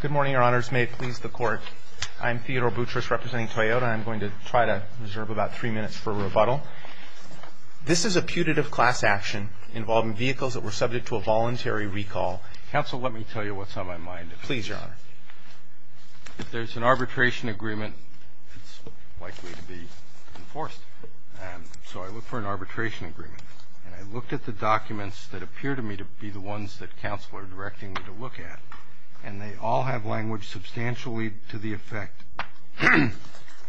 Good morning, your honors. May it please the court. I'm Theodore Boutrous representing Toyota. I'm going to try to reserve about three minutes for rebuttal. This is a putative class action involving vehicles that were subject to a voluntary recall. Counsel, let me tell you what's on my mind. Please, your honor. If there's an arbitration agreement, it's likely to be enforced. So I look for an arbitration agreement, and I looked at the documents that appear to me to be the ones that counsel are directing me to look at, and they all have language substantially to the effect,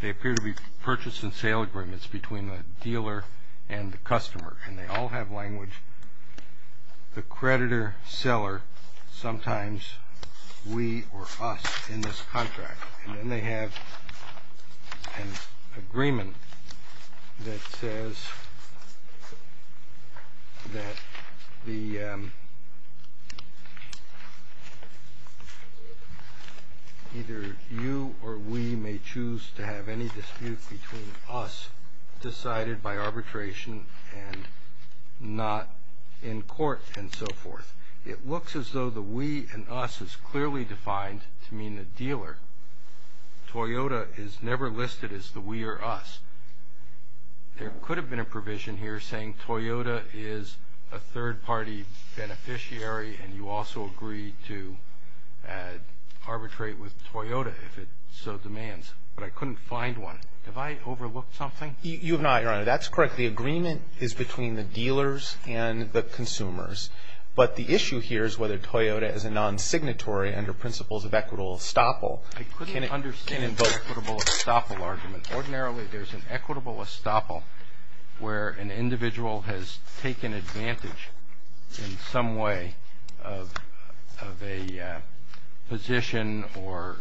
they appear to be purchase and sale agreements between the dealer and the customer, and they all have language, the creditor-seller, sometimes we or us in this contract. And then they have an agreement that says that either you or we may choose to have any dispute between us decided by arbitration and not in court and so forth. It looks as though the we and us is clearly defined to mean the dealer. Toyota is never listed as the we or us. There could have been a provision here saying Toyota is a third-party beneficiary, and you also agree to arbitrate with Toyota if it so demands, but I couldn't find one. Have I overlooked something? You have not, your honor. That's correct. The agreement is between the dealers and the consumers, but the issue here is whether Toyota is a non-signatory under principles of equitable estoppel. I couldn't understand the equitable estoppel argument. Ordinarily, there's an equitable estoppel where an individual has taken advantage in some way of a position or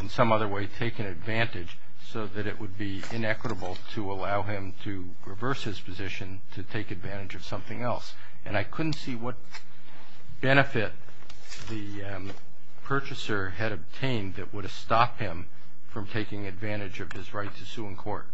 in some other way taken advantage so that it would be inequitable to allow him to reverse his position to take advantage of something else. And I couldn't see what benefit the purchaser had obtained that would have stopped him from taking advantage of his right to sue in court.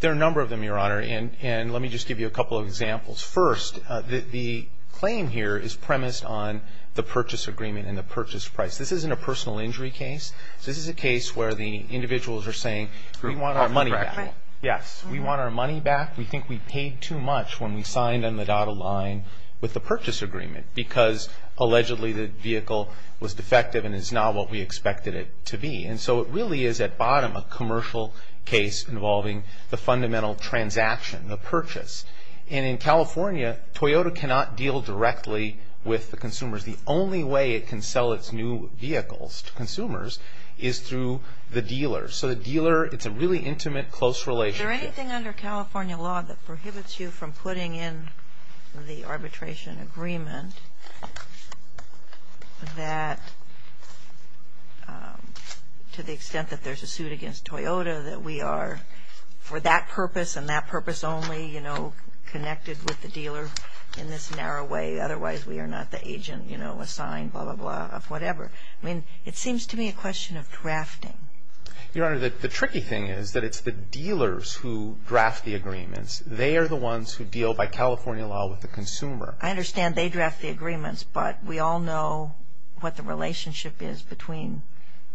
There are a number of them, your honor, and let me just give you a couple of examples. First, the claim here is premised on the purchase agreement and the purchase price. This isn't a personal injury case. This is a case where the individuals are saying we want our money back. Yes, we want our money back. We think we paid too much when we signed on the dotted line with the purchase agreement because allegedly the vehicle was defective and is not what we expected it to be. And so it really is at bottom a commercial case involving the fundamental transaction, the purchase. And in California, Toyota cannot deal directly with the consumers. The only way it can sell its new vehicles to consumers is through the dealer. So the dealer, it's a really intimate, close relationship. Is there anything under California law that prohibits you from putting in the arbitration agreement that, to the extent that there's a suit against Toyota, that we are, for that purpose and that purpose only, you know, connected with the dealer in this narrow way? Otherwise, we are not the agent, you know, assigned, blah, blah, blah, of whatever. I mean, it seems to me a question of drafting. Your honor, the tricky thing is that it's the dealers who draft the agreements. They are the ones who deal by California law with the consumer. I understand they draft the agreements, but we all know what the relationship is between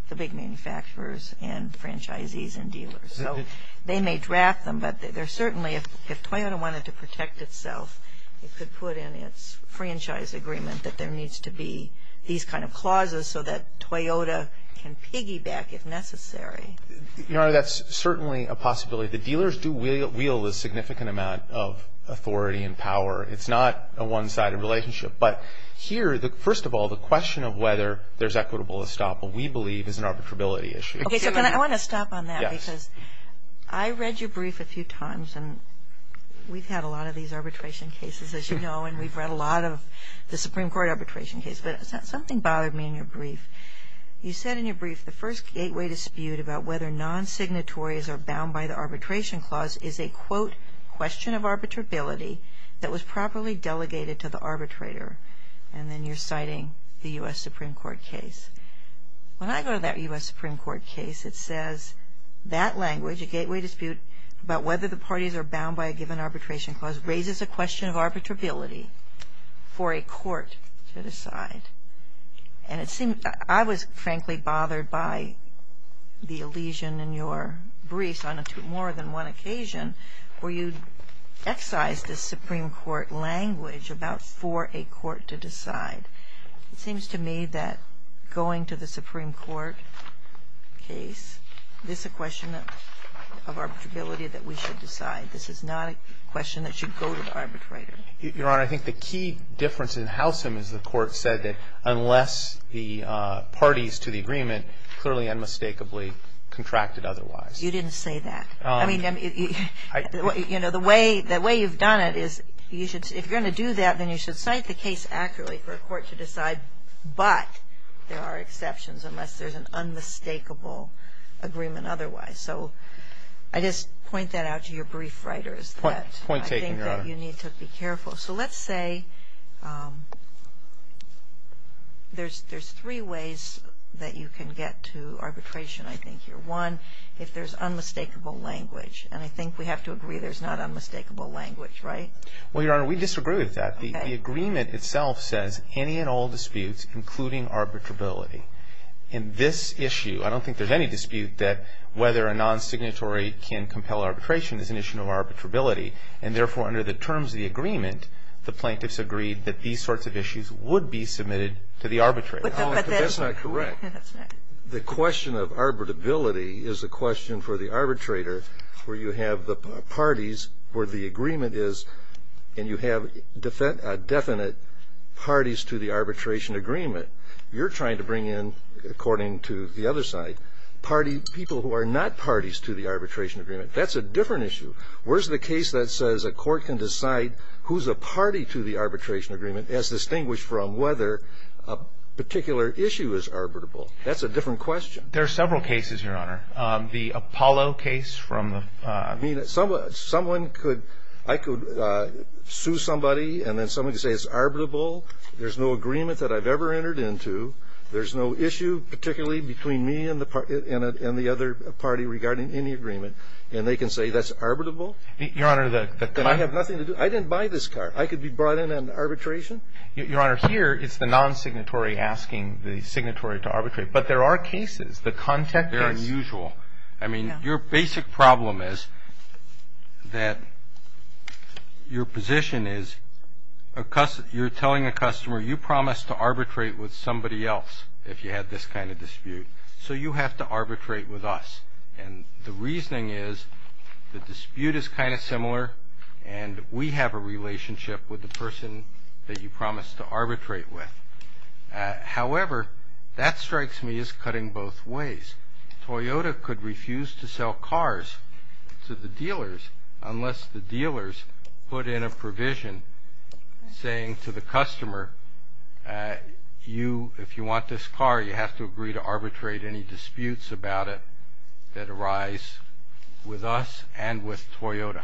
the big manufacturers and franchisees and dealers. So they may draft them, but they're certainly, if Toyota wanted to protect itself, it could put in its franchise agreement that there needs to be these kind of clauses so that Toyota can piggyback if necessary. Your honor, that's certainly a possibility. The dealers do wield a significant amount of authority and power. It's not a one-sided relationship. But here, first of all, the question of whether there's equitable estoppel, we believe, is an arbitrability issue. Okay, so I want to stop on that because I read your brief a few times, and we've had a lot of these arbitration cases, as you know, and we've read a lot of the Supreme Court arbitration case. But something bothered me in your brief. You said in your brief the first gateway dispute about whether non-signatories are bound by the arbitration clause is a, quote, question of arbitrability that was properly delegated to the arbitrator. And then you're citing the U.S. Supreme Court case. When I go to that U.S. Supreme Court case, it says that language, a gateway dispute about whether the parties are bound by a given arbitration clause, raises a question of arbitrability for a court to decide. And it seemed, I was frankly bothered by the allusion in your briefs on more than one occasion where you excised the Supreme Court language about for a court to decide. It seems to me that going to the Supreme Court case, this is a question of arbitrability that we should decide. This is not a question that should go to the arbitrator. Your Honor, I think the key difference in Howsam is the court said that unless the parties to the agreement clearly unmistakably contracted otherwise. You didn't say that. I mean, you know, the way you've done it is you should, if you're going to do that, then you should cite the case accurately for a court to decide, but there are exceptions unless there's an unmistakable agreement otherwise. So I just point that out to your brief writers. Point taken, Your Honor. I think that you need to be careful. So let's say there's three ways that you can get to arbitration, I think, here. One, if there's unmistakable language. And I think we have to agree there's not unmistakable language, right? Well, Your Honor, we disagree with that. Okay. The agreement itself says any and all disputes, including arbitrability. In this issue, I don't think there's any dispute that whether a non-signatory can compel arbitration is an issue of arbitrability. And therefore, under the terms of the agreement, the plaintiffs agreed that these sorts of issues would be submitted to the arbitrator. But that's not correct. That's not. The question of arbitrability is a question for the arbitrator where you have the parties where the agreement is and you have definite parties to the arbitration agreement. You're trying to bring in, according to the other side, people who are not parties to the arbitration agreement. That's a different issue. Where's the case that says a court can decide who's a party to the arbitration agreement as distinguished from whether a particular issue is arbitrable? That's a different question. There are several cases, Your Honor. The Apollo case from the ---- I mean, someone could ---- I could sue somebody and then someone could say it's arbitrable. There's no agreement that I've ever entered into. There's no issue particularly between me and the other party regarding any agreement. And they can say that's arbitrable. Your Honor, the ---- And I have nothing to do ---- I didn't buy this car. I could be brought in on arbitration. Your Honor, here it's the non-signatory asking the signatory to arbitrate. But there are cases. The contact case ---- They're unusual. I mean, your basic problem is that your position is you're telling a customer, you promised to arbitrate with somebody else if you had this kind of dispute, so you have to arbitrate with us. And the reasoning is the dispute is kind of similar and we have a relationship with the person that you promised to arbitrate with. However, that strikes me as cutting both ways. Toyota could refuse to sell cars to the dealers unless the dealers put in a provision saying to the customer, if you want this car, you have to agree to arbitrate any disputes about it that arise with us and with Toyota.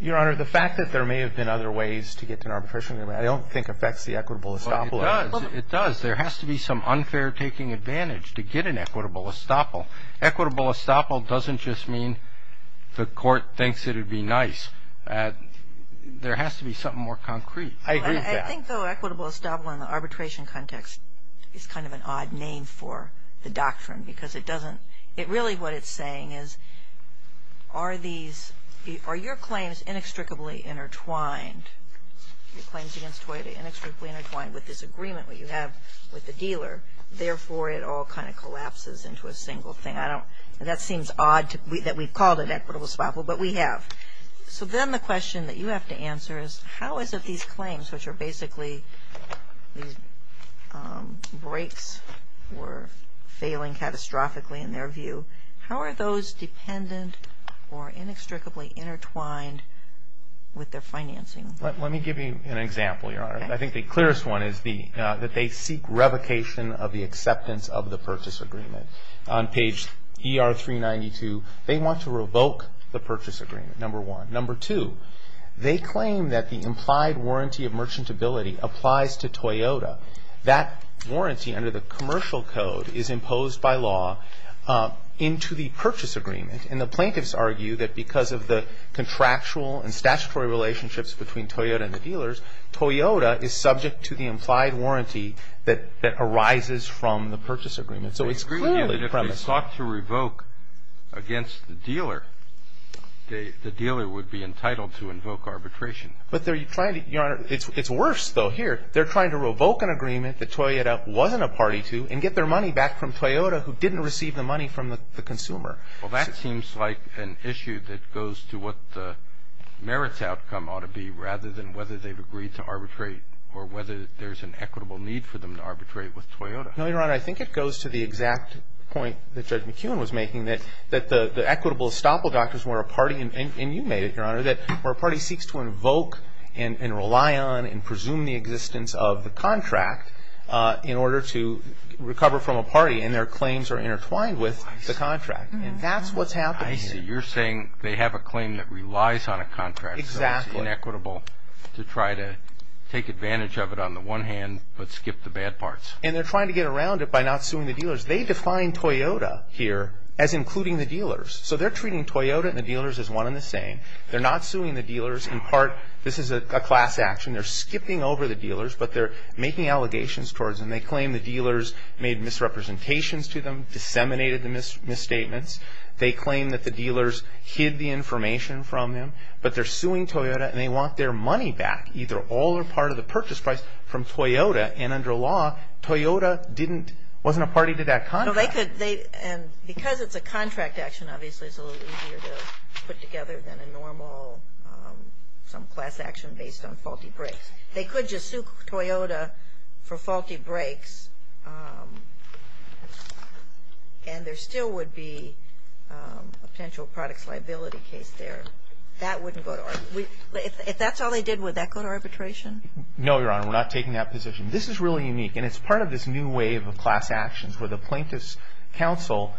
Your Honor, the fact that there may have been other ways to get to an arbitration agreement, I don't think affects the equitable establishment. It does. There has to be some unfair taking advantage to get an equitable estoppel. Equitable estoppel doesn't just mean the court thinks it would be nice. There has to be something more concrete. I agree with that. I think, though, equitable estoppel in the arbitration context is kind of an odd name for the doctrine because it doesn't ---- it really what it's saying is are these ---- are your claims inextricably intertwined, your claims against Toyota inextricably intertwined with this agreement that you have with the dealer, therefore it all kind of collapses into a single thing. I don't ---- that seems odd that we've called it equitable estoppel, but we have. So then the question that you have to answer is how is it these claims, which are basically these breaks or failing catastrophically in their view, how are those dependent or inextricably intertwined with their financing? Let me give you an example, Your Honor. I think the clearest one is that they seek revocation of the acceptance of the purchase agreement. On page ER 392, they want to revoke the purchase agreement, number one. Number two, they claim that the implied warranty of merchantability applies to Toyota. That warranty under the commercial code is imposed by law into the purchase agreement. And the plaintiffs argue that because of the contractual and statutory relationships between Toyota and the dealers, Toyota is subject to the implied warranty that arises from the purchase agreement. So it's clearly premise. They agree that if they sought to revoke against the dealer, the dealer would be entitled to invoke arbitration. But they're trying to, Your Honor, it's worse though here. They're trying to revoke an agreement that Toyota wasn't a party to and get their money back from Toyota who didn't receive the money from the consumer. Well, that seems like an issue that goes to what the merits outcome ought to be rather than whether they've agreed to arbitrate or whether there's an equitable need for them to arbitrate with Toyota. No, Your Honor. I think it goes to the exact point that Judge McKeown was making, that the equitable estoppel doctrine is where a party, and you made it, Your Honor, where a party seeks to invoke and rely on and presume the existence of the contract in order to recover from a party and their claims are intertwined with the contract. And that's what's happening here. I see. You're saying they have a claim that relies on a contract. Exactly. So it's inequitable to try to take advantage of it on the one hand but skip the bad parts. And they're trying to get around it by not suing the dealers. They define Toyota here as including the dealers. So they're treating Toyota and the dealers as one and the same. They're not suing the dealers. In part, this is a class action. They're skipping over the dealers, but they're making allegations towards them. They claim the dealers made misrepresentations to them, disseminated the misstatements. They claim that the dealers hid the information from them, but they're suing Toyota and they want their money back, either all or part of the purchase price, from Toyota. And under law, Toyota wasn't a party to that contract. Because it's a contract action, obviously, it's a little easier to put together than a normal some class action based on faulty brakes. They could just sue Toyota for faulty brakes and there still would be a potential products liability case there. That wouldn't go to arbitration. If that's all they did, would that go to arbitration? No, Your Honor. We're not taking that position. This is really unique. And it's part of this new wave of class actions where the plaintiff's counsel,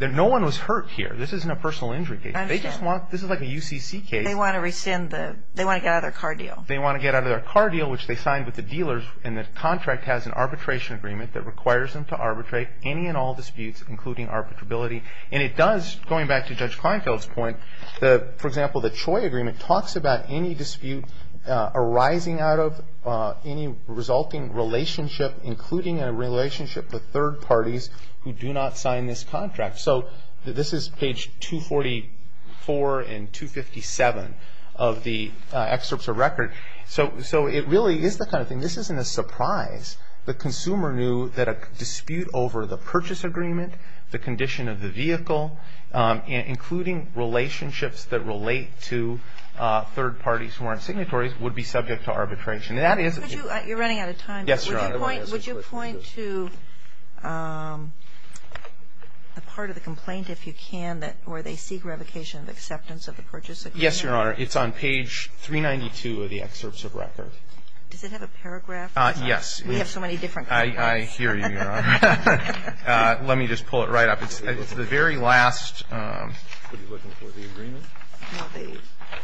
no one was hurt here. This isn't a personal injury case. They just want, this is like a UCC case. They want to rescind the, they want to get out of their car deal. They want to get out of their car deal, which they signed with the dealers. And the contract has an arbitration agreement that requires them to arbitrate any and all disputes, including arbitrability. And it does, going back to Judge Kleinfeld's point, for example, the Choi agreement talks about any dispute arising out of any resulting relationship, including a relationship with third parties who do not sign this contract. So this is page 244 and 257 of the excerpts of record. So it really is the kind of thing, this isn't a surprise. The consumer knew that a dispute over the purchase agreement, the condition of the vehicle, including relationships that relate to third parties who aren't signatories, would be subject to arbitration. And that is. You're running out of time. Yes, Your Honor. Would you point to the part of the complaint, if you can, where they seek revocation of acceptance of the purchase agreement? Yes, Your Honor. It's on page 392 of the excerpts of record. Does it have a paragraph? Yes. We have so many different paragraphs. I hear you, Your Honor. Let me just pull it right up. It's the very last. Are you looking for the agreement? No, the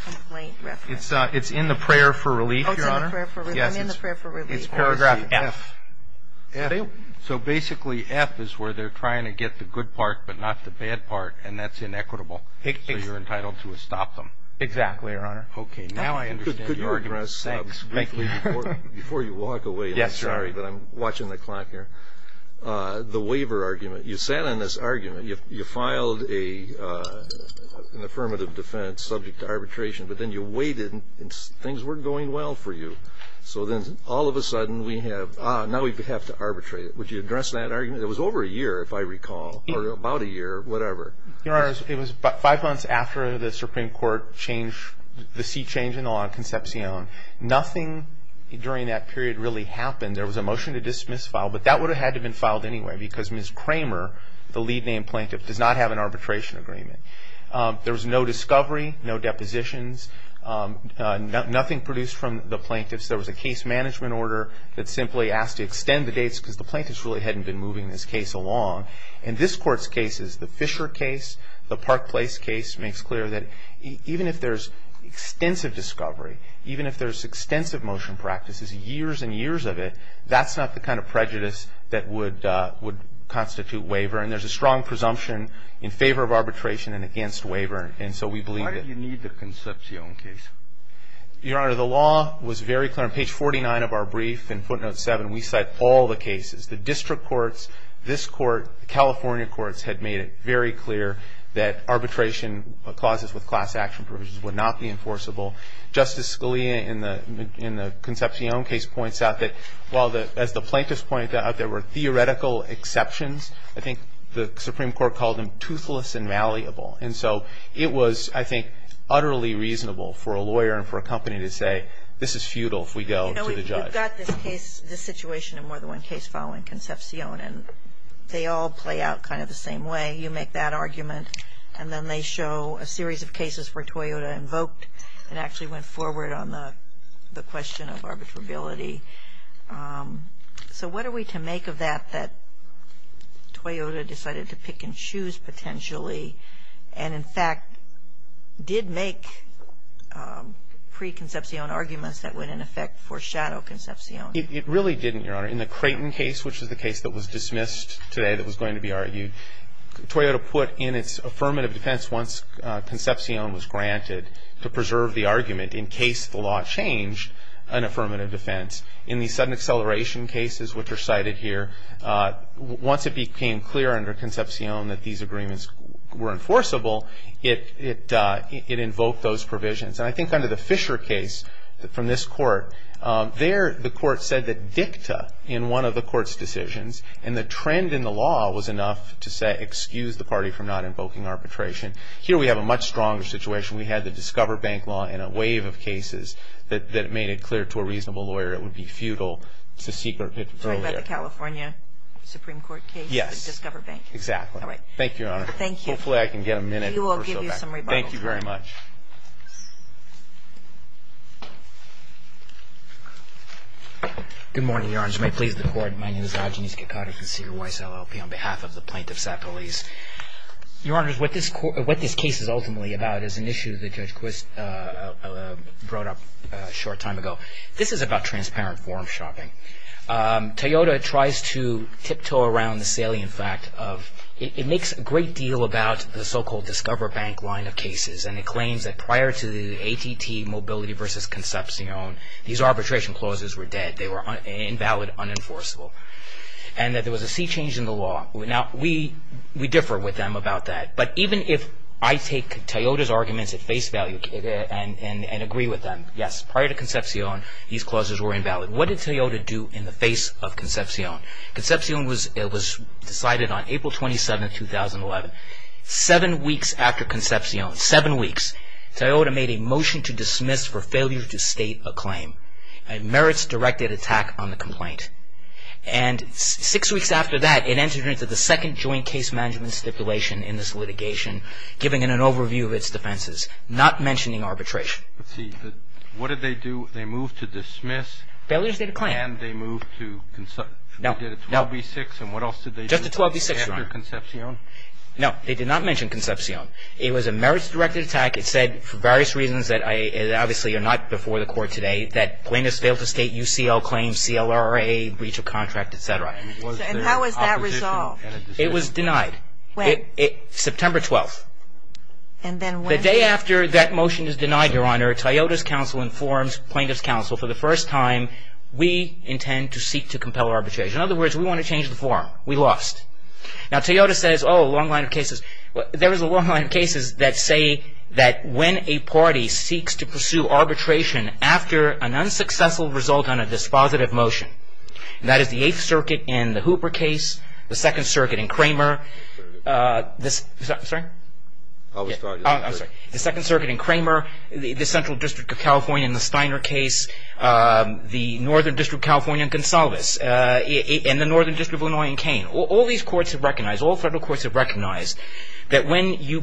complaint reference. It's in the prayer for relief, Your Honor. Oh, it's in the prayer for relief. I'm in the prayer for relief. It's paragraph F. So basically F is where they're trying to get the good part but not the bad part, and that's inequitable. So you're entitled to stop them. Exactly, Your Honor. Okay. Now I understand your argument. Could you address briefly before you walk away? I'm sorry, but I'm watching the clock here. The waiver argument. You sat on this argument. You filed an affirmative defense subject to arbitration, but then you waited and things weren't going well for you. So then all of a sudden we have, ah, now we have to arbitrate it. Would you address that argument? It was over a year, if I recall, or about a year, whatever. Your Honor, it was about five months after the Supreme Court changed the seat change in the law in Concepcion. Nothing during that period really happened. There was a motion to dismiss file, but that would have had to have been filed anyway because Ms. Kramer, the lead named plaintiff, does not have an arbitration agreement. There was no discovery, no depositions, nothing produced from the plaintiffs. There was a case management order that simply asked to extend the dates because the plaintiffs really hadn't been moving this case along. In this Court's cases, the Fisher case, the Park Place case, makes clear that even if there's extensive discovery, even if there's extensive motion practices, years and years of it, that's not the kind of prejudice that would constitute waiver. And there's a strong presumption in favor of arbitration and against waiver. And so we believe that. Why did you need the Concepcion case? Your Honor, the law was very clear. On page 49 of our brief, in footnote 7, we cite all the cases. The district courts, this Court, the California courts had made it very clear that arbitration clauses with class action provisions would not be enforceable. Justice Scalia, in the Concepcion case, points out that while, as the plaintiffs pointed out, there were theoretical exceptions, I think the Supreme Court called them toothless and malleable. And so it was, I think, utterly reasonable for a lawyer and for a company to say, this is futile if we go to the judge. You know, we've got this case, this situation, and more than one case following Concepcion, and they all play out kind of the same way. You make that argument, and then they show a series of cases where Toyota invoked and actually went forward on the question of arbitrability. So what are we to make of that, that Toyota decided to pick and choose potentially and, in fact, did make pre-Concepcion arguments that would, in effect, foreshadow Concepcion? It really didn't, Your Honor. In the Creighton case, which is the case that was dismissed today that was going to be argued, Toyota put in its affirmative defense once Concepcion was granted to preserve the argument in case the law changed an affirmative defense. In the sudden acceleration cases, which are cited here, once it became clear under Concepcion that these agreements were enforceable, it invoked those provisions. And I think under the Fisher case from this court, there the court said that dicta in one of the court's decisions and the trend in the law was enough to say, excuse the party from not invoking arbitration. Here we have a much stronger situation. We had the Discover Bank law in a wave of cases that made it clear to a reasonable lawyer it would be futile to seek earlier. You're talking about the California Supreme Court case? Yes. Discover Bank. Exactly. All right. Thank you, Your Honor. Thank you. I'm going to go back and get a minute or so back. We will give you some rebuttal time. Thank you very much. Good morning, Your Honor. You may please the court. My name is Agnieszka Kaczorowski on behalf of the plaintiffs at police. Your Honor, what this case is ultimately about is an issue that Judge Quist brought up a short time ago. This is about transparent form shopping. Toyota tries to tiptoe around the salient fact of it makes a great deal about the so-called Discover Bank line of cases and it claims that prior to the ATT mobility versus Concepcion, these arbitration clauses were dead. They were invalid, unenforceable, and that there was a sea change in the law. Now, we differ with them about that, but even if I take Toyota's arguments at face value and agree with them, yes, prior to Concepcion, these clauses were invalid. What did Toyota do in the face of Concepcion? Concepcion was decided on April 27, 2011. Seven weeks after Concepcion, seven weeks, Toyota made a motion to dismiss for failure to state a claim. It merits directed attack on the complaint. And six weeks after that, it entered into the second joint case management stipulation in this litigation, giving it an overview of its defenses, not mentioning arbitration. Let's see. What did they do? They moved to dismiss? Failure to state a claim. And they moved to – we did a 12B6, and what else did they do? Just a 12B6, Your Honor. After Concepcion? No, they did not mention Concepcion. It was a merits directed attack. It said for various reasons that obviously are not before the Court today that plaintiffs failed to state UCL claims, CLRA, breach of contract, et cetera. And how was that resolved? It was denied. When? September 12th. And then when? The day after that motion is denied, Your Honor, Toyota's counsel informs plaintiff's counsel, for the first time, we intend to seek to compel arbitration. In other words, we want to change the form. We lost. Now, Toyota says, oh, a long line of cases. There is a long line of cases that say that when a party seeks to pursue arbitration after an unsuccessful result on a dispositive motion, and that is the Eighth Circuit in the Hooper case, the Second Circuit in Kramer, the Second Circuit in Kramer, the Central District of California in the Steiner case, the Northern District of California in Gonsalves, and the Northern District of Illinois in Kane. All these courts have recognized, all federal courts have recognized, that when you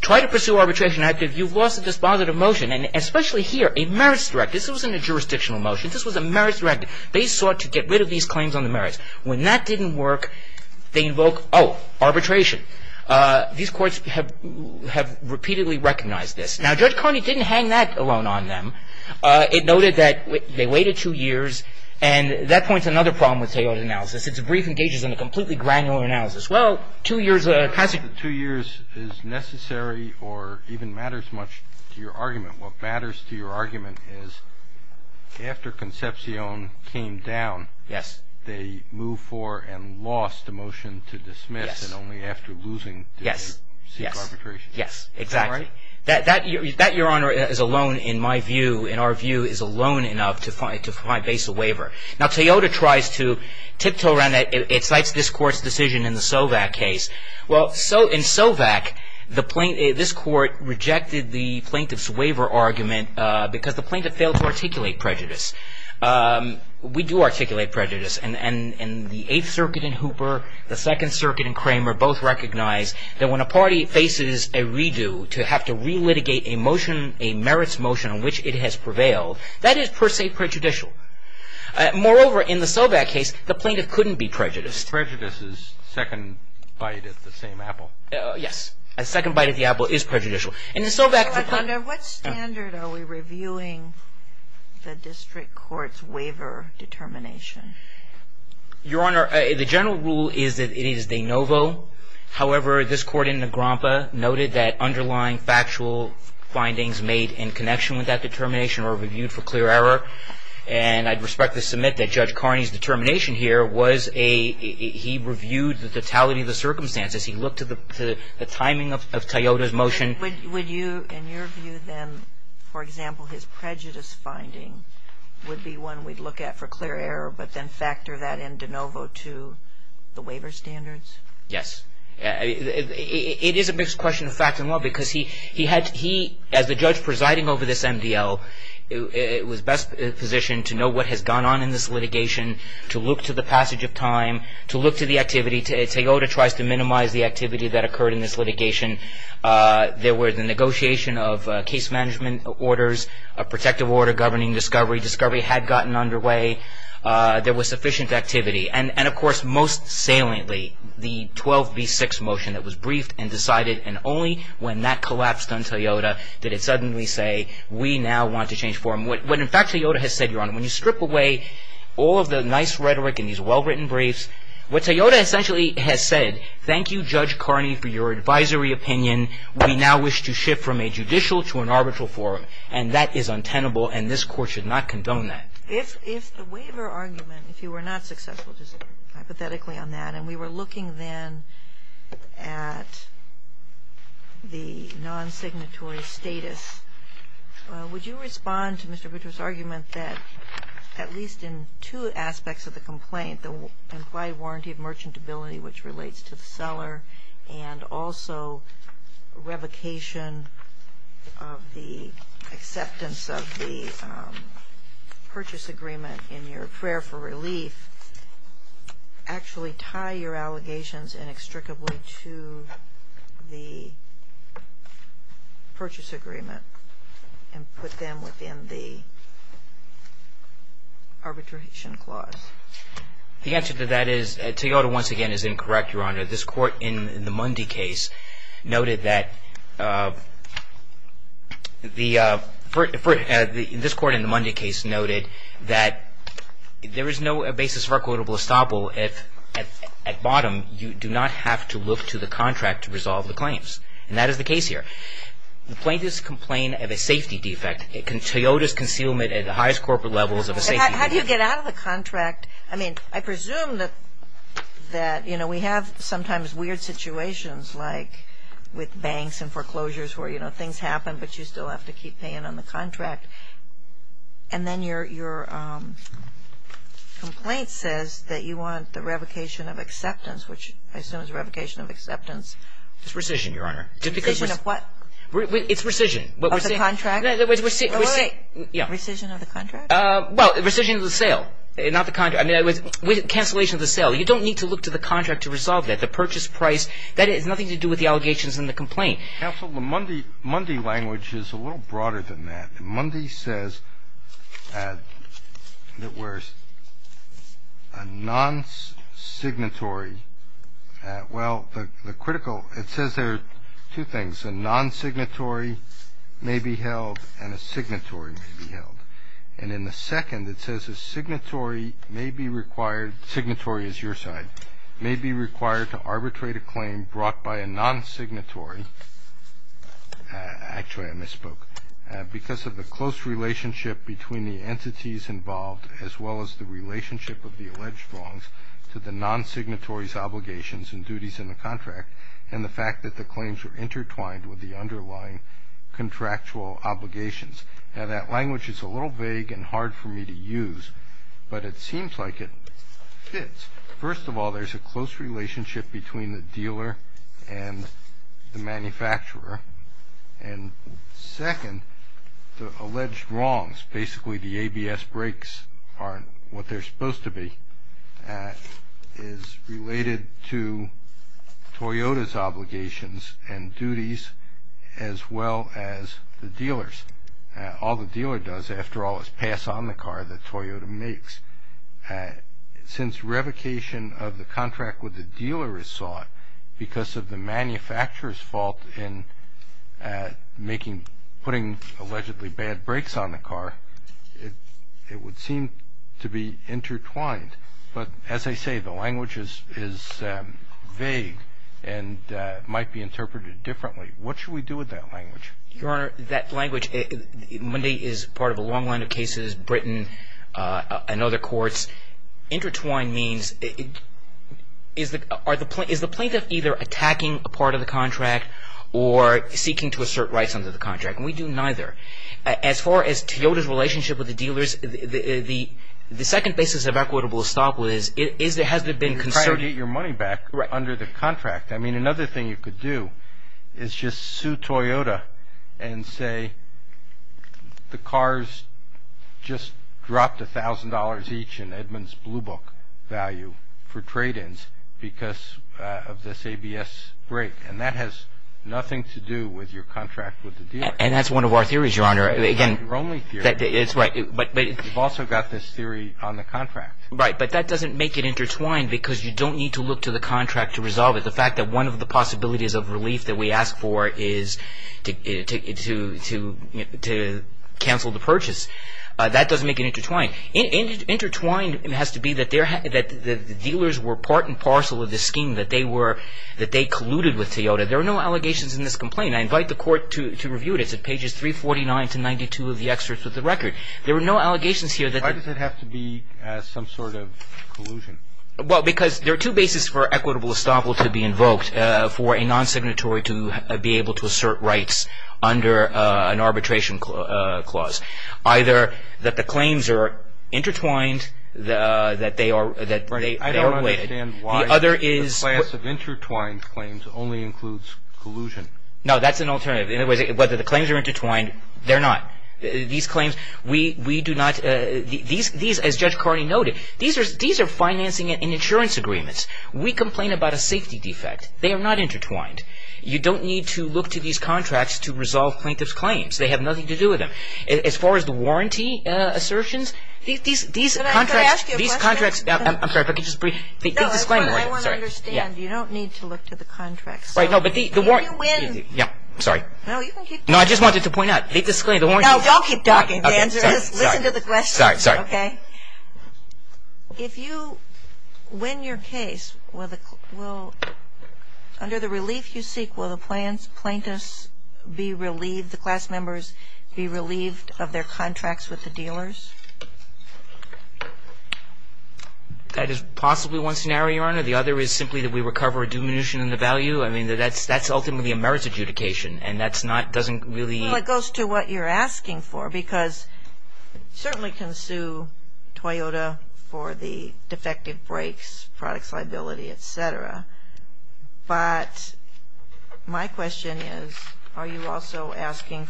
try to pursue arbitration after you've lost a dispositive motion, and especially here, a merits directed. This wasn't a jurisdictional motion. This was a merits directed. They sought to get rid of these claims on the merits. When that didn't work, they invoked, oh, arbitration. These courts have repeatedly recognized this. Now, Judge Carney didn't hang that alone on them. It noted that they waited two years, and that points to another problem with Toyota analysis. It's a brief and engages in a completely granular analysis. Well, two years is necessary or even matters much to your argument. What matters to your argument is after Concepcion came down, they moved for and lost a motion to dismiss, and only after losing did they seek arbitration. Yes, exactly. That, Your Honor, is alone, in my view, in our view, is alone enough to find basal waiver. Now, Toyota tries to tiptoe around that. It cites this court's decision in the Sovak case. Well, in Sovak, this court rejected the plaintiff's waiver argument because the plaintiff failed to articulate prejudice. We do articulate prejudice, and the Eighth Circuit in Hooper, the Second Circuit in Kramer, both recognize that when a party faces a redo to have to relitigate a motion, a merits motion on which it has prevailed, that is, per se, prejudicial. Moreover, in the Sovak case, the plaintiff couldn't be prejudiced. Prejudice is second bite at the same apple. Yes. A second bite at the apple is prejudicial. What standard are we reviewing the district court's waiver determination? Your Honor, the general rule is that it is de novo. However, this court in Nagrompa noted that underlying factual findings made in connection with that determination were reviewed for clear error, and I'd respectfully submit that Judge Carney's determination here was a he reviewed the totality of the circumstances. He looked at the timing of Toyota's motion. Would you, in your view, then, for example, his prejudice finding would be one we'd look at for clear error but then factor that in de novo to the waiver standards? Yes. It is a mixed question of fact and law because he, as the judge presiding over this MDL, was best positioned to know what has gone on in this litigation, to look to the passage of time, to look to the activity. Toyota tries to minimize the activity that occurred in this litigation. There were the negotiation of case management orders, a protective order governing discovery. Discovery had gotten underway. There was sufficient activity. And, of course, most saliently, the 12B6 motion that was briefed and decided, and only when that collapsed on Toyota did it suddenly say, we now want to change form. What, in fact, Toyota has said, Your Honor, when you strip away all of the nice rhetoric in these well-written briefs, what Toyota essentially has said, Thank you, Judge Carney, for your advisory opinion. We now wish to shift from a judicial to an arbitral form, and that is untenable, and this Court should not condone that. If the waiver argument, if you were not successful, just hypothetically on that, and we were looking then at the non-signatory status, would you respond to Mr. Buttritt's argument that at least in two aspects of the complaint, the implied warranty of merchantability, which relates to the seller, and also revocation of the acceptance of the purchase agreement in your prayer for relief, actually tie your allegations inextricably to the purchase agreement and put them within the arbitration clause? The answer to that is, Toyota, once again, is incorrect, Your Honor. This Court in the Mundy case noted that there is no basis for a quotable estoppel if, at bottom, you do not have to look to the contract to resolve the claims, and that is the case here. The plaintiffs complain of a safety defect. Toyota's concealment at the highest corporate level is a safety defect. But how do you get out of the contract? I mean, I presume that, you know, we have sometimes weird situations like with banks and foreclosures where, you know, things happen, but you still have to keep paying on the contract. And then your complaint says that you want the revocation of acceptance, which I assume is revocation of acceptance. It's rescission, Your Honor. Rescission of what? It's rescission. Of the contract? No, it's rescission. Oh, wait, wait. Yeah. Well, rescission of the sale, not the contract. I mean, cancellation of the sale. You don't need to look to the contract to resolve that. The purchase price, that has nothing to do with the allegations in the complaint. Counsel, the Mundy language is a little broader than that. Mundy says that where a non-signatory – well, the critical – it says there are two things. A non-signatory may be held and a signatory may be held. And in the second, it says a signatory may be required – signatory is your side – may be required to arbitrate a claim brought by a non-signatory – actually, I misspoke – because of the close relationship between the entities involved as well as the relationship of the alleged wrongs to the non-signatory's obligations and duties in the contract and the fact that the claims are intertwined with the underlying contractual obligations. Now, that language is a little vague and hard for me to use, but it seems like it fits. First of all, there's a close relationship between the dealer and the manufacturer. And second, the alleged wrongs – basically, the ABS brakes aren't what they're supposed to be – is related to Toyota's obligations and duties as well as the dealer's. All the dealer does, after all, is pass on the car that Toyota makes. Since revocation of the contract with the dealer is sought because of the manufacturer's fault in putting allegedly bad brakes on the car, it would seem to be intertwined. But as I say, the language is vague and might be interpreted differently. What should we do with that language? Your Honor, that language – Monday is part of a long line of cases, Britain and other courts – intertwined means – is the plaintiff either attacking a part of the contract or seeking to assert rights under the contract? And we do neither. As far as Toyota's relationship with the dealers, the second basis of equitable estoppel is, has there been concern – You're trying to get your money back under the contract. I mean, another thing you could do is just sue Toyota and say the cars just dropped $1,000 each in Edmunds Blue Book value for trade-ins because of this ABS brake. And that has nothing to do with your contract with the dealer. And that's one of our theories, Your Honor. That's your only theory. That's right. You've also got this theory on the contract. Right, but that doesn't make it intertwined because you don't need to look to the contract to resolve it. The fact that one of the possibilities of relief that we ask for is to cancel the purchase, that doesn't make it intertwined. Intertwined has to be that the dealers were part and parcel of the scheme, that they colluded with Toyota. There are no allegations in this complaint. I invite the Court to review it. It's at pages 349 to 92 of the excerpt of the record. There are no allegations here that – Why does it have to be some sort of collusion? Well, because there are two bases for equitable estoppel to be invoked for a non-signatory to be able to assert rights under an arbitration clause. Either that the claims are intertwined, that they are – I don't understand why the class of intertwined claims only includes collusion. No, that's an alternative. In other words, whether the claims are intertwined, they're not. These claims, we do not – these, as Judge Carney noted, these are financing and insurance agreements. We complain about a safety defect. They are not intertwined. You don't need to look to these contracts to resolve plaintiff's claims. They have nothing to do with them. As far as the warranty assertions, these contracts – Can I ask you a question? I'm sorry, if I could just – No, I want to understand. You don't need to look to the contracts. Right, no, but the – If you win – Yeah, sorry. No, you can keep talking. No, I just wanted to point out. No, don't keep talking. The answer is listen to the questions. Sorry, sorry. Okay? If you win your case, will – under the relief you seek, will the plaintiffs be relieved, the class members be relieved of their contracts with the dealers? That is possibly one scenario, Your Honor. The other is simply that we recover a diminution in the value. I mean, that's ultimately a merits adjudication, and that's not – doesn't really – Well, it goes to what you're asking for, because you certainly can sue Toyota for the defective brakes, products liability, et cetera. But my question is, are you also asking,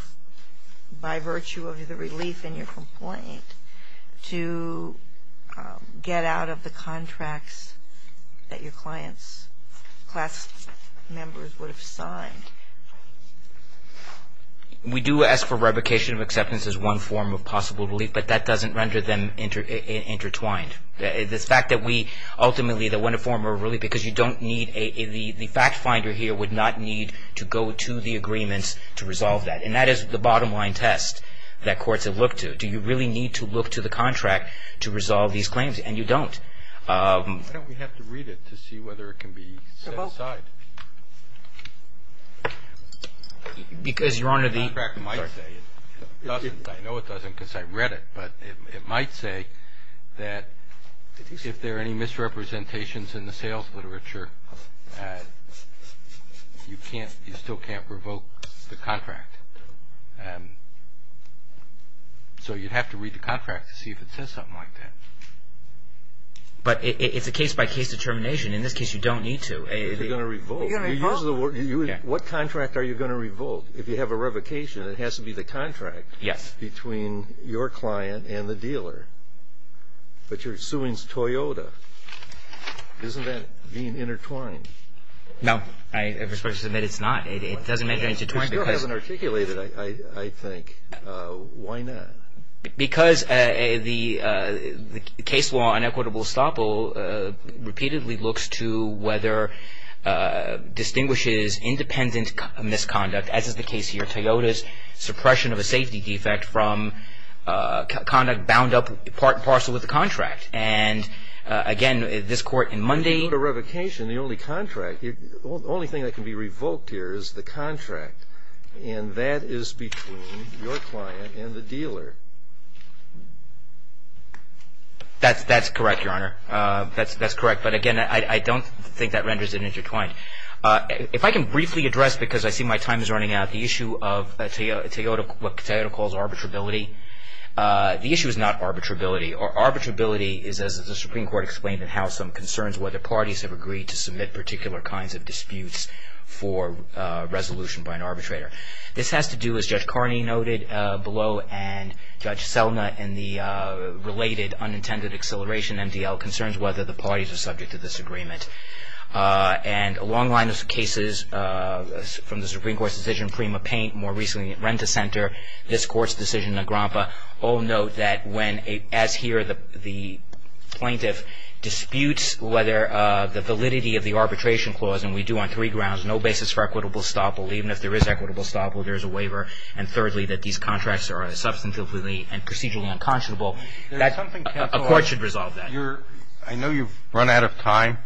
by virtue of the relief in your complaint, to get out of the contracts that your clients' class members would have signed? We do ask for revocation of acceptance as one form of possible relief, but that doesn't render them intertwined. The fact that we ultimately, that when a form of relief, because you don't need a – the fact finder here would not need to go to the agreements to resolve that, and that is the bottom line test that courts have looked to. Do you really need to look to the contract to resolve these claims? And you don't. Why don't we have to read it to see whether it can be set aside? Because, Your Honor, the – The contract might say it doesn't. I know it doesn't because I read it, but it might say that if there are any misrepresentations in the sales literature, you can't – you still can't revoke the contract. So you'd have to read the contract to see if it says something like that. But it's a case-by-case determination. In this case, you don't need to. You're going to revoke. You're going to revoke? What contract are you going to revoke? If you have a revocation, it has to be the contract between your client and the dealer. But you're suing Toyota. Isn't that being intertwined? No. I'm supposed to submit it's not. It doesn't make it intertwined because – It still hasn't articulated it, I think. Why not? Because the case law on equitable estoppel repeatedly looks to whether distinguishes independent misconduct, as is the case here. Toyota's suppression of a safety defect from conduct bound up in parcel with the contract. And, again, this court in Monday – If you have a revocation, the only contract – the only thing that can be revoked here is the contract. And that is between your client and the dealer. That's correct, Your Honor. That's correct. But, again, I don't think that renders it intertwined. If I can briefly address, because I see my time is running out, the issue of what Toyota calls arbitrability. The issue is not arbitrability. Arbitrability is, as the Supreme Court explained in House, some concerns whether parties have agreed to submit particular kinds of disputes for resolution by an arbitrator. This has to do, as Judge Carney noted below, and Judge Selna in the related unintended acceleration, MDL, concerns whether the parties are subject to this agreement. And a long line of cases from the Supreme Court's decision, Prima-Paint, more recently Rent-A-Center, this Court's decision, Nagrampa, all note that when, as here, the plaintiff disputes whether the validity of the arbitration clause, and we do on three grounds, no basis for equitable estoppel. Even if there is equitable estoppel, there is a waiver. And, thirdly, that these contracts are substantively and procedurally unconscionable. A court should resolve that. I know you've run out of time,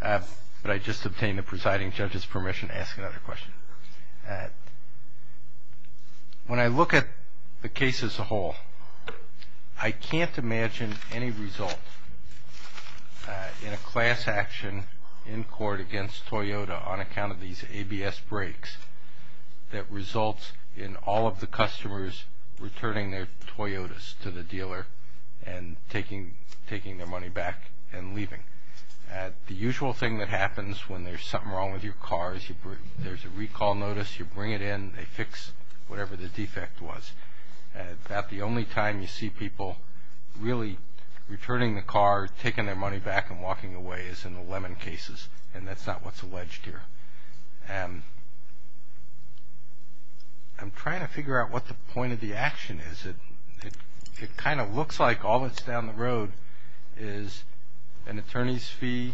but I just obtained the presiding judge's permission to ask another question. When I look at the case as a whole, I can't imagine any result in a class action in court against Toyota on account of these ABS breaks that results in all of the customers returning their Toyotas to the dealer and taking their money back and leaving. The usual thing that happens when there's something wrong with your car is there's a recall notice, you bring it in, they fix whatever the defect was. About the only time you see people really returning the car, taking their money back, and walking away is in the Lemon cases, and that's not what's alleged here. I'm trying to figure out what the point of the action is. It kind of looks like all that's down the road is an attorney's fee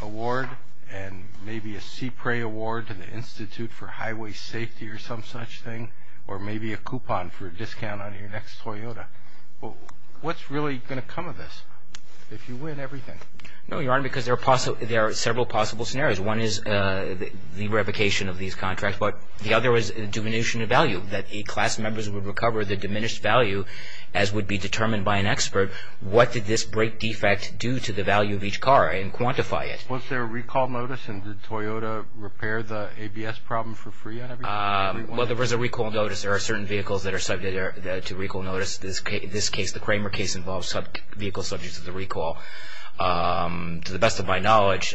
award and maybe a CPRA award to the Institute for Highway Safety or some such thing, or maybe a coupon for a discount on your next Toyota. What's really going to come of this if you win everything? No, Your Honor, because there are several possible scenarios. One is the revocation of these contracts, but the other is diminution of value, that the class members would recover the diminished value as would be determined by an expert. What did this break defect do to the value of each car and quantify it? Was there a recall notice and did Toyota repair the ABS problem for free on every one? Well, there was a recall notice. There are certain vehicles that are subject to recall notice. This case, the Kramer case, involves vehicles subject to the recall. To the best of my knowledge,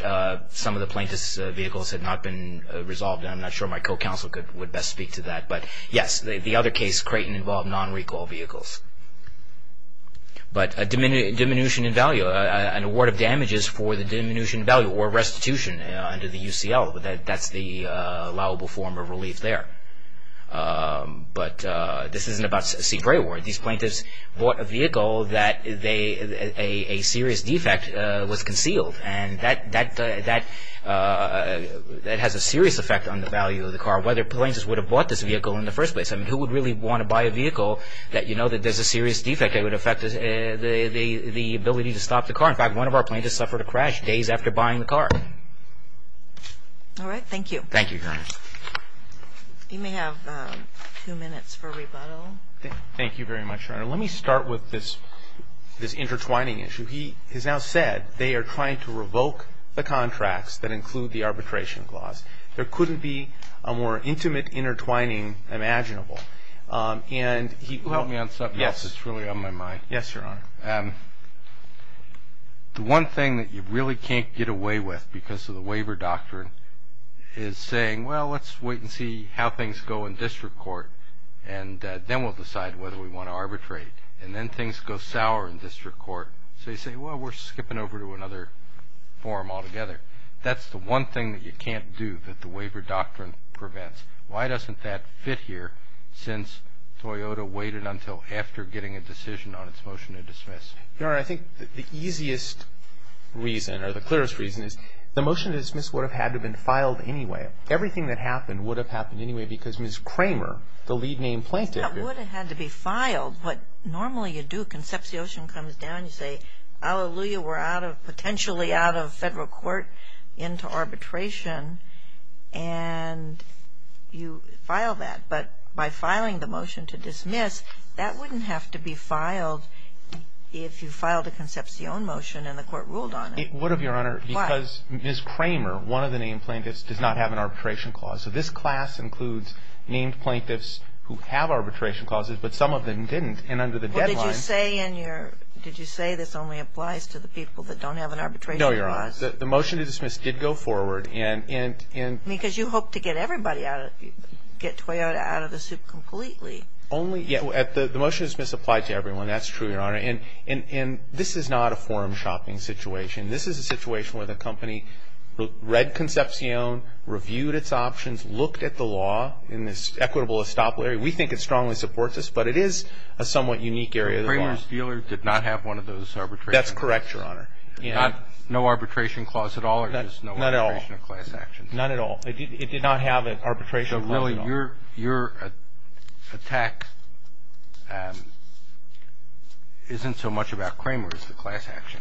some of the plaintiff's vehicles had not been resolved, and I'm not sure my co-counsel would best speak to that. But yes, the other case, Creighton, involved non-recall vehicles. But a diminution in value, an award of damages for the diminution in value or restitution under the UCL, that's the allowable form of relief there. But this isn't about CPRA award. These plaintiffs bought a vehicle that a serious defect was concealed, and that has a serious effect on the value of the car, whether plaintiffs would have bought this vehicle in the first place. I mean, who would really want to buy a vehicle that you know that there's a serious defect that would affect the ability to stop the car? In fact, one of our plaintiffs suffered a crash days after buying the car. All right. Thank you. Thank you, Your Honor. You may have two minutes for rebuttal. Thank you very much, Your Honor. Let me start with this intertwining issue. He has now said they are trying to revoke the contracts that include the arbitration clause. There couldn't be a more intimate intertwining imaginable. Can you help me on something else that's really on my mind? Yes, Your Honor. The one thing that you really can't get away with because of the waiver doctrine is saying, well, let's wait and see how things go in district court, and then we'll decide whether we want to arbitrate. And then things go sour in district court. So you say, well, we're skipping over to another forum altogether. That's the one thing that you can't do that the waiver doctrine prevents. Why doesn't that fit here since Toyota waited until after getting a decision on its motion to dismiss? Your Honor, I think the easiest reason or the clearest reason is the motion to dismiss would have had to have been filed anyway. Everything that happened would have happened anyway because Ms. Kramer, the lead named plaintiff – That would have had to be filed. What normally you do, Concepcion comes down, you say, hallelujah, we're potentially out of federal court into arbitration, and you file that. But by filing the motion to dismiss, that wouldn't have to be filed if you filed a Concepcion motion and the court ruled on it. It would have, Your Honor. Why? Because Ms. Kramer, one of the named plaintiffs, does not have an arbitration clause. So this class includes named plaintiffs who have arbitration clauses, but some of them didn't. And under the deadline – Well, did you say in your – did you say this only applies to the people that don't have an arbitration clause? No, Your Honor. The motion to dismiss did go forward and – Because you hoped to get everybody out of – get Toyota out of the soup completely. Only – the motion to dismiss applied to everyone. That's true, Your Honor. And this is not a forum shopping situation. This is a situation where the company read Concepcion, reviewed its options, looked at the law in this equitable estoppel area. We think it strongly supports this, but it is a somewhat unique area of the law. So Kramer's dealer did not have one of those arbitration clauses? That's correct, Your Honor. Not – no arbitration clause at all, or just no arbitration or class action? Not at all. Not at all. It did not have an arbitration clause at all. So really, your attack isn't so much about Kramer as the class action.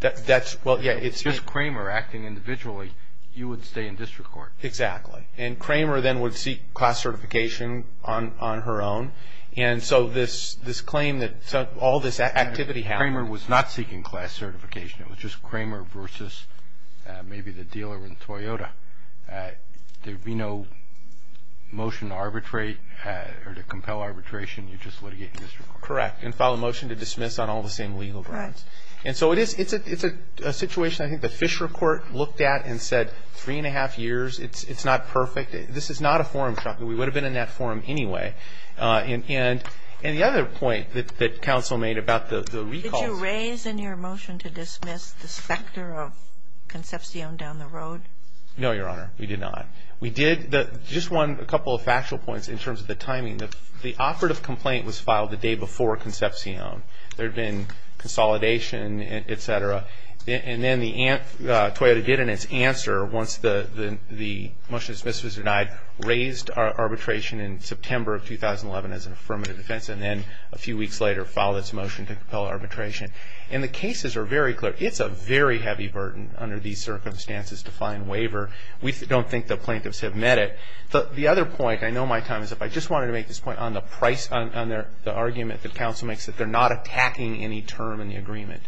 That's – well, yeah, it's – If it's just Kramer acting individually, you would stay in district court. Exactly. And Kramer then would seek class certification on her own. And so this claim that all this activity happened – Kramer was not seeking class certification. It was just Kramer versus maybe the dealer in Toyota. There would be no motion to arbitrate or to compel arbitration. You'd just litigate in district court. Correct. And file a motion to dismiss on all the same legal grounds. Right. And so it is – it's a situation I think the Fisher Court looked at and said three-and-a-half years, it's not perfect. This is not a forum shopping. We would have been in that forum anyway. And the other point that counsel made about the recalls – Did you raise in your motion to dismiss the specter of Concepcion down the road? No, Your Honor. We did not. We did – just a couple of factual points in terms of the timing. The operative complaint was filed the day before Concepcion. There had been consolidation, et cetera. And then Toyota did in its answer, once the motion to dismiss was denied, raised arbitration in September of 2011 as an affirmative defense and then a few weeks later filed its motion to compel arbitration. And the cases are very clear. It's a very heavy burden under these circumstances to find waiver. We don't think the plaintiffs have met it. The other point – I know my time is up. I just wanted to make this point on the price – on the argument that counsel makes that they're not attacking any term in the agreement.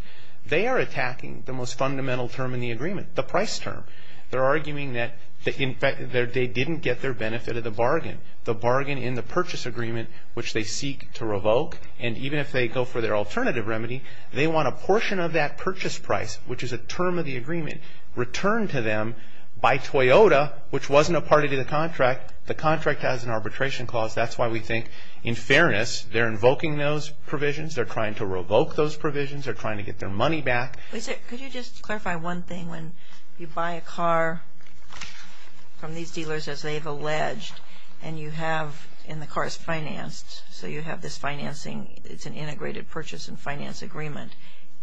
They are attacking the most fundamental term in the agreement, the price term. They're arguing that they didn't get their benefit of the bargain. The bargain in the purchase agreement, which they seek to revoke, and even if they go for their alternative remedy, they want a portion of that purchase price, which is a term of the agreement, returned to them by Toyota, which wasn't a party to the contract. The contract has an arbitration clause. That's why we think, in fairness, they're invoking those provisions. They're trying to revoke those provisions. They're trying to get their money back. Could you just clarify one thing? When you buy a car from these dealers, as they've alleged, and you have – and the car is financed, so you have this financing. It's an integrated purchase and finance agreement.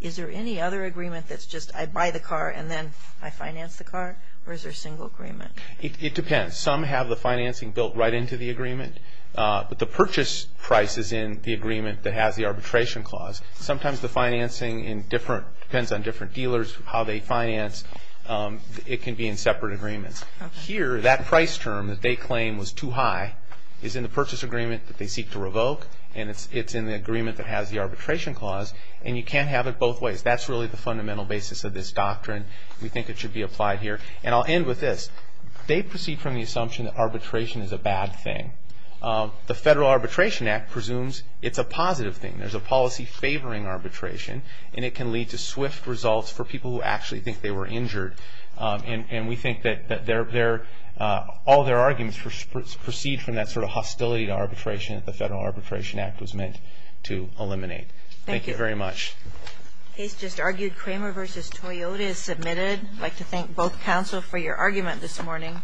Is there any other agreement that's just I buy the car and then I finance the car, or is there a single agreement? It depends. Some have the financing built right into the agreement, but the purchase price is in the agreement that has the arbitration clause. Sometimes the financing in different – depends on different dealers, how they finance. It can be in separate agreements. Here, that price term that they claim was too high is in the purchase agreement that they seek to revoke, and it's in the agreement that has the arbitration clause. And you can't have it both ways. That's really the fundamental basis of this doctrine. We think it should be applied here. And I'll end with this. They proceed from the assumption that arbitration is a bad thing. The Federal Arbitration Act presumes it's a positive thing. There's a policy favoring arbitration, and it can lead to swift results for people who actually think they were injured. And we think that all their arguments proceed from that sort of hostility to arbitration that the Federal Arbitration Act was meant to eliminate. Thank you very much. The case just argued, Kramer v. Toyota, is submitted. I'd like to thank both counsel for your argument this morning.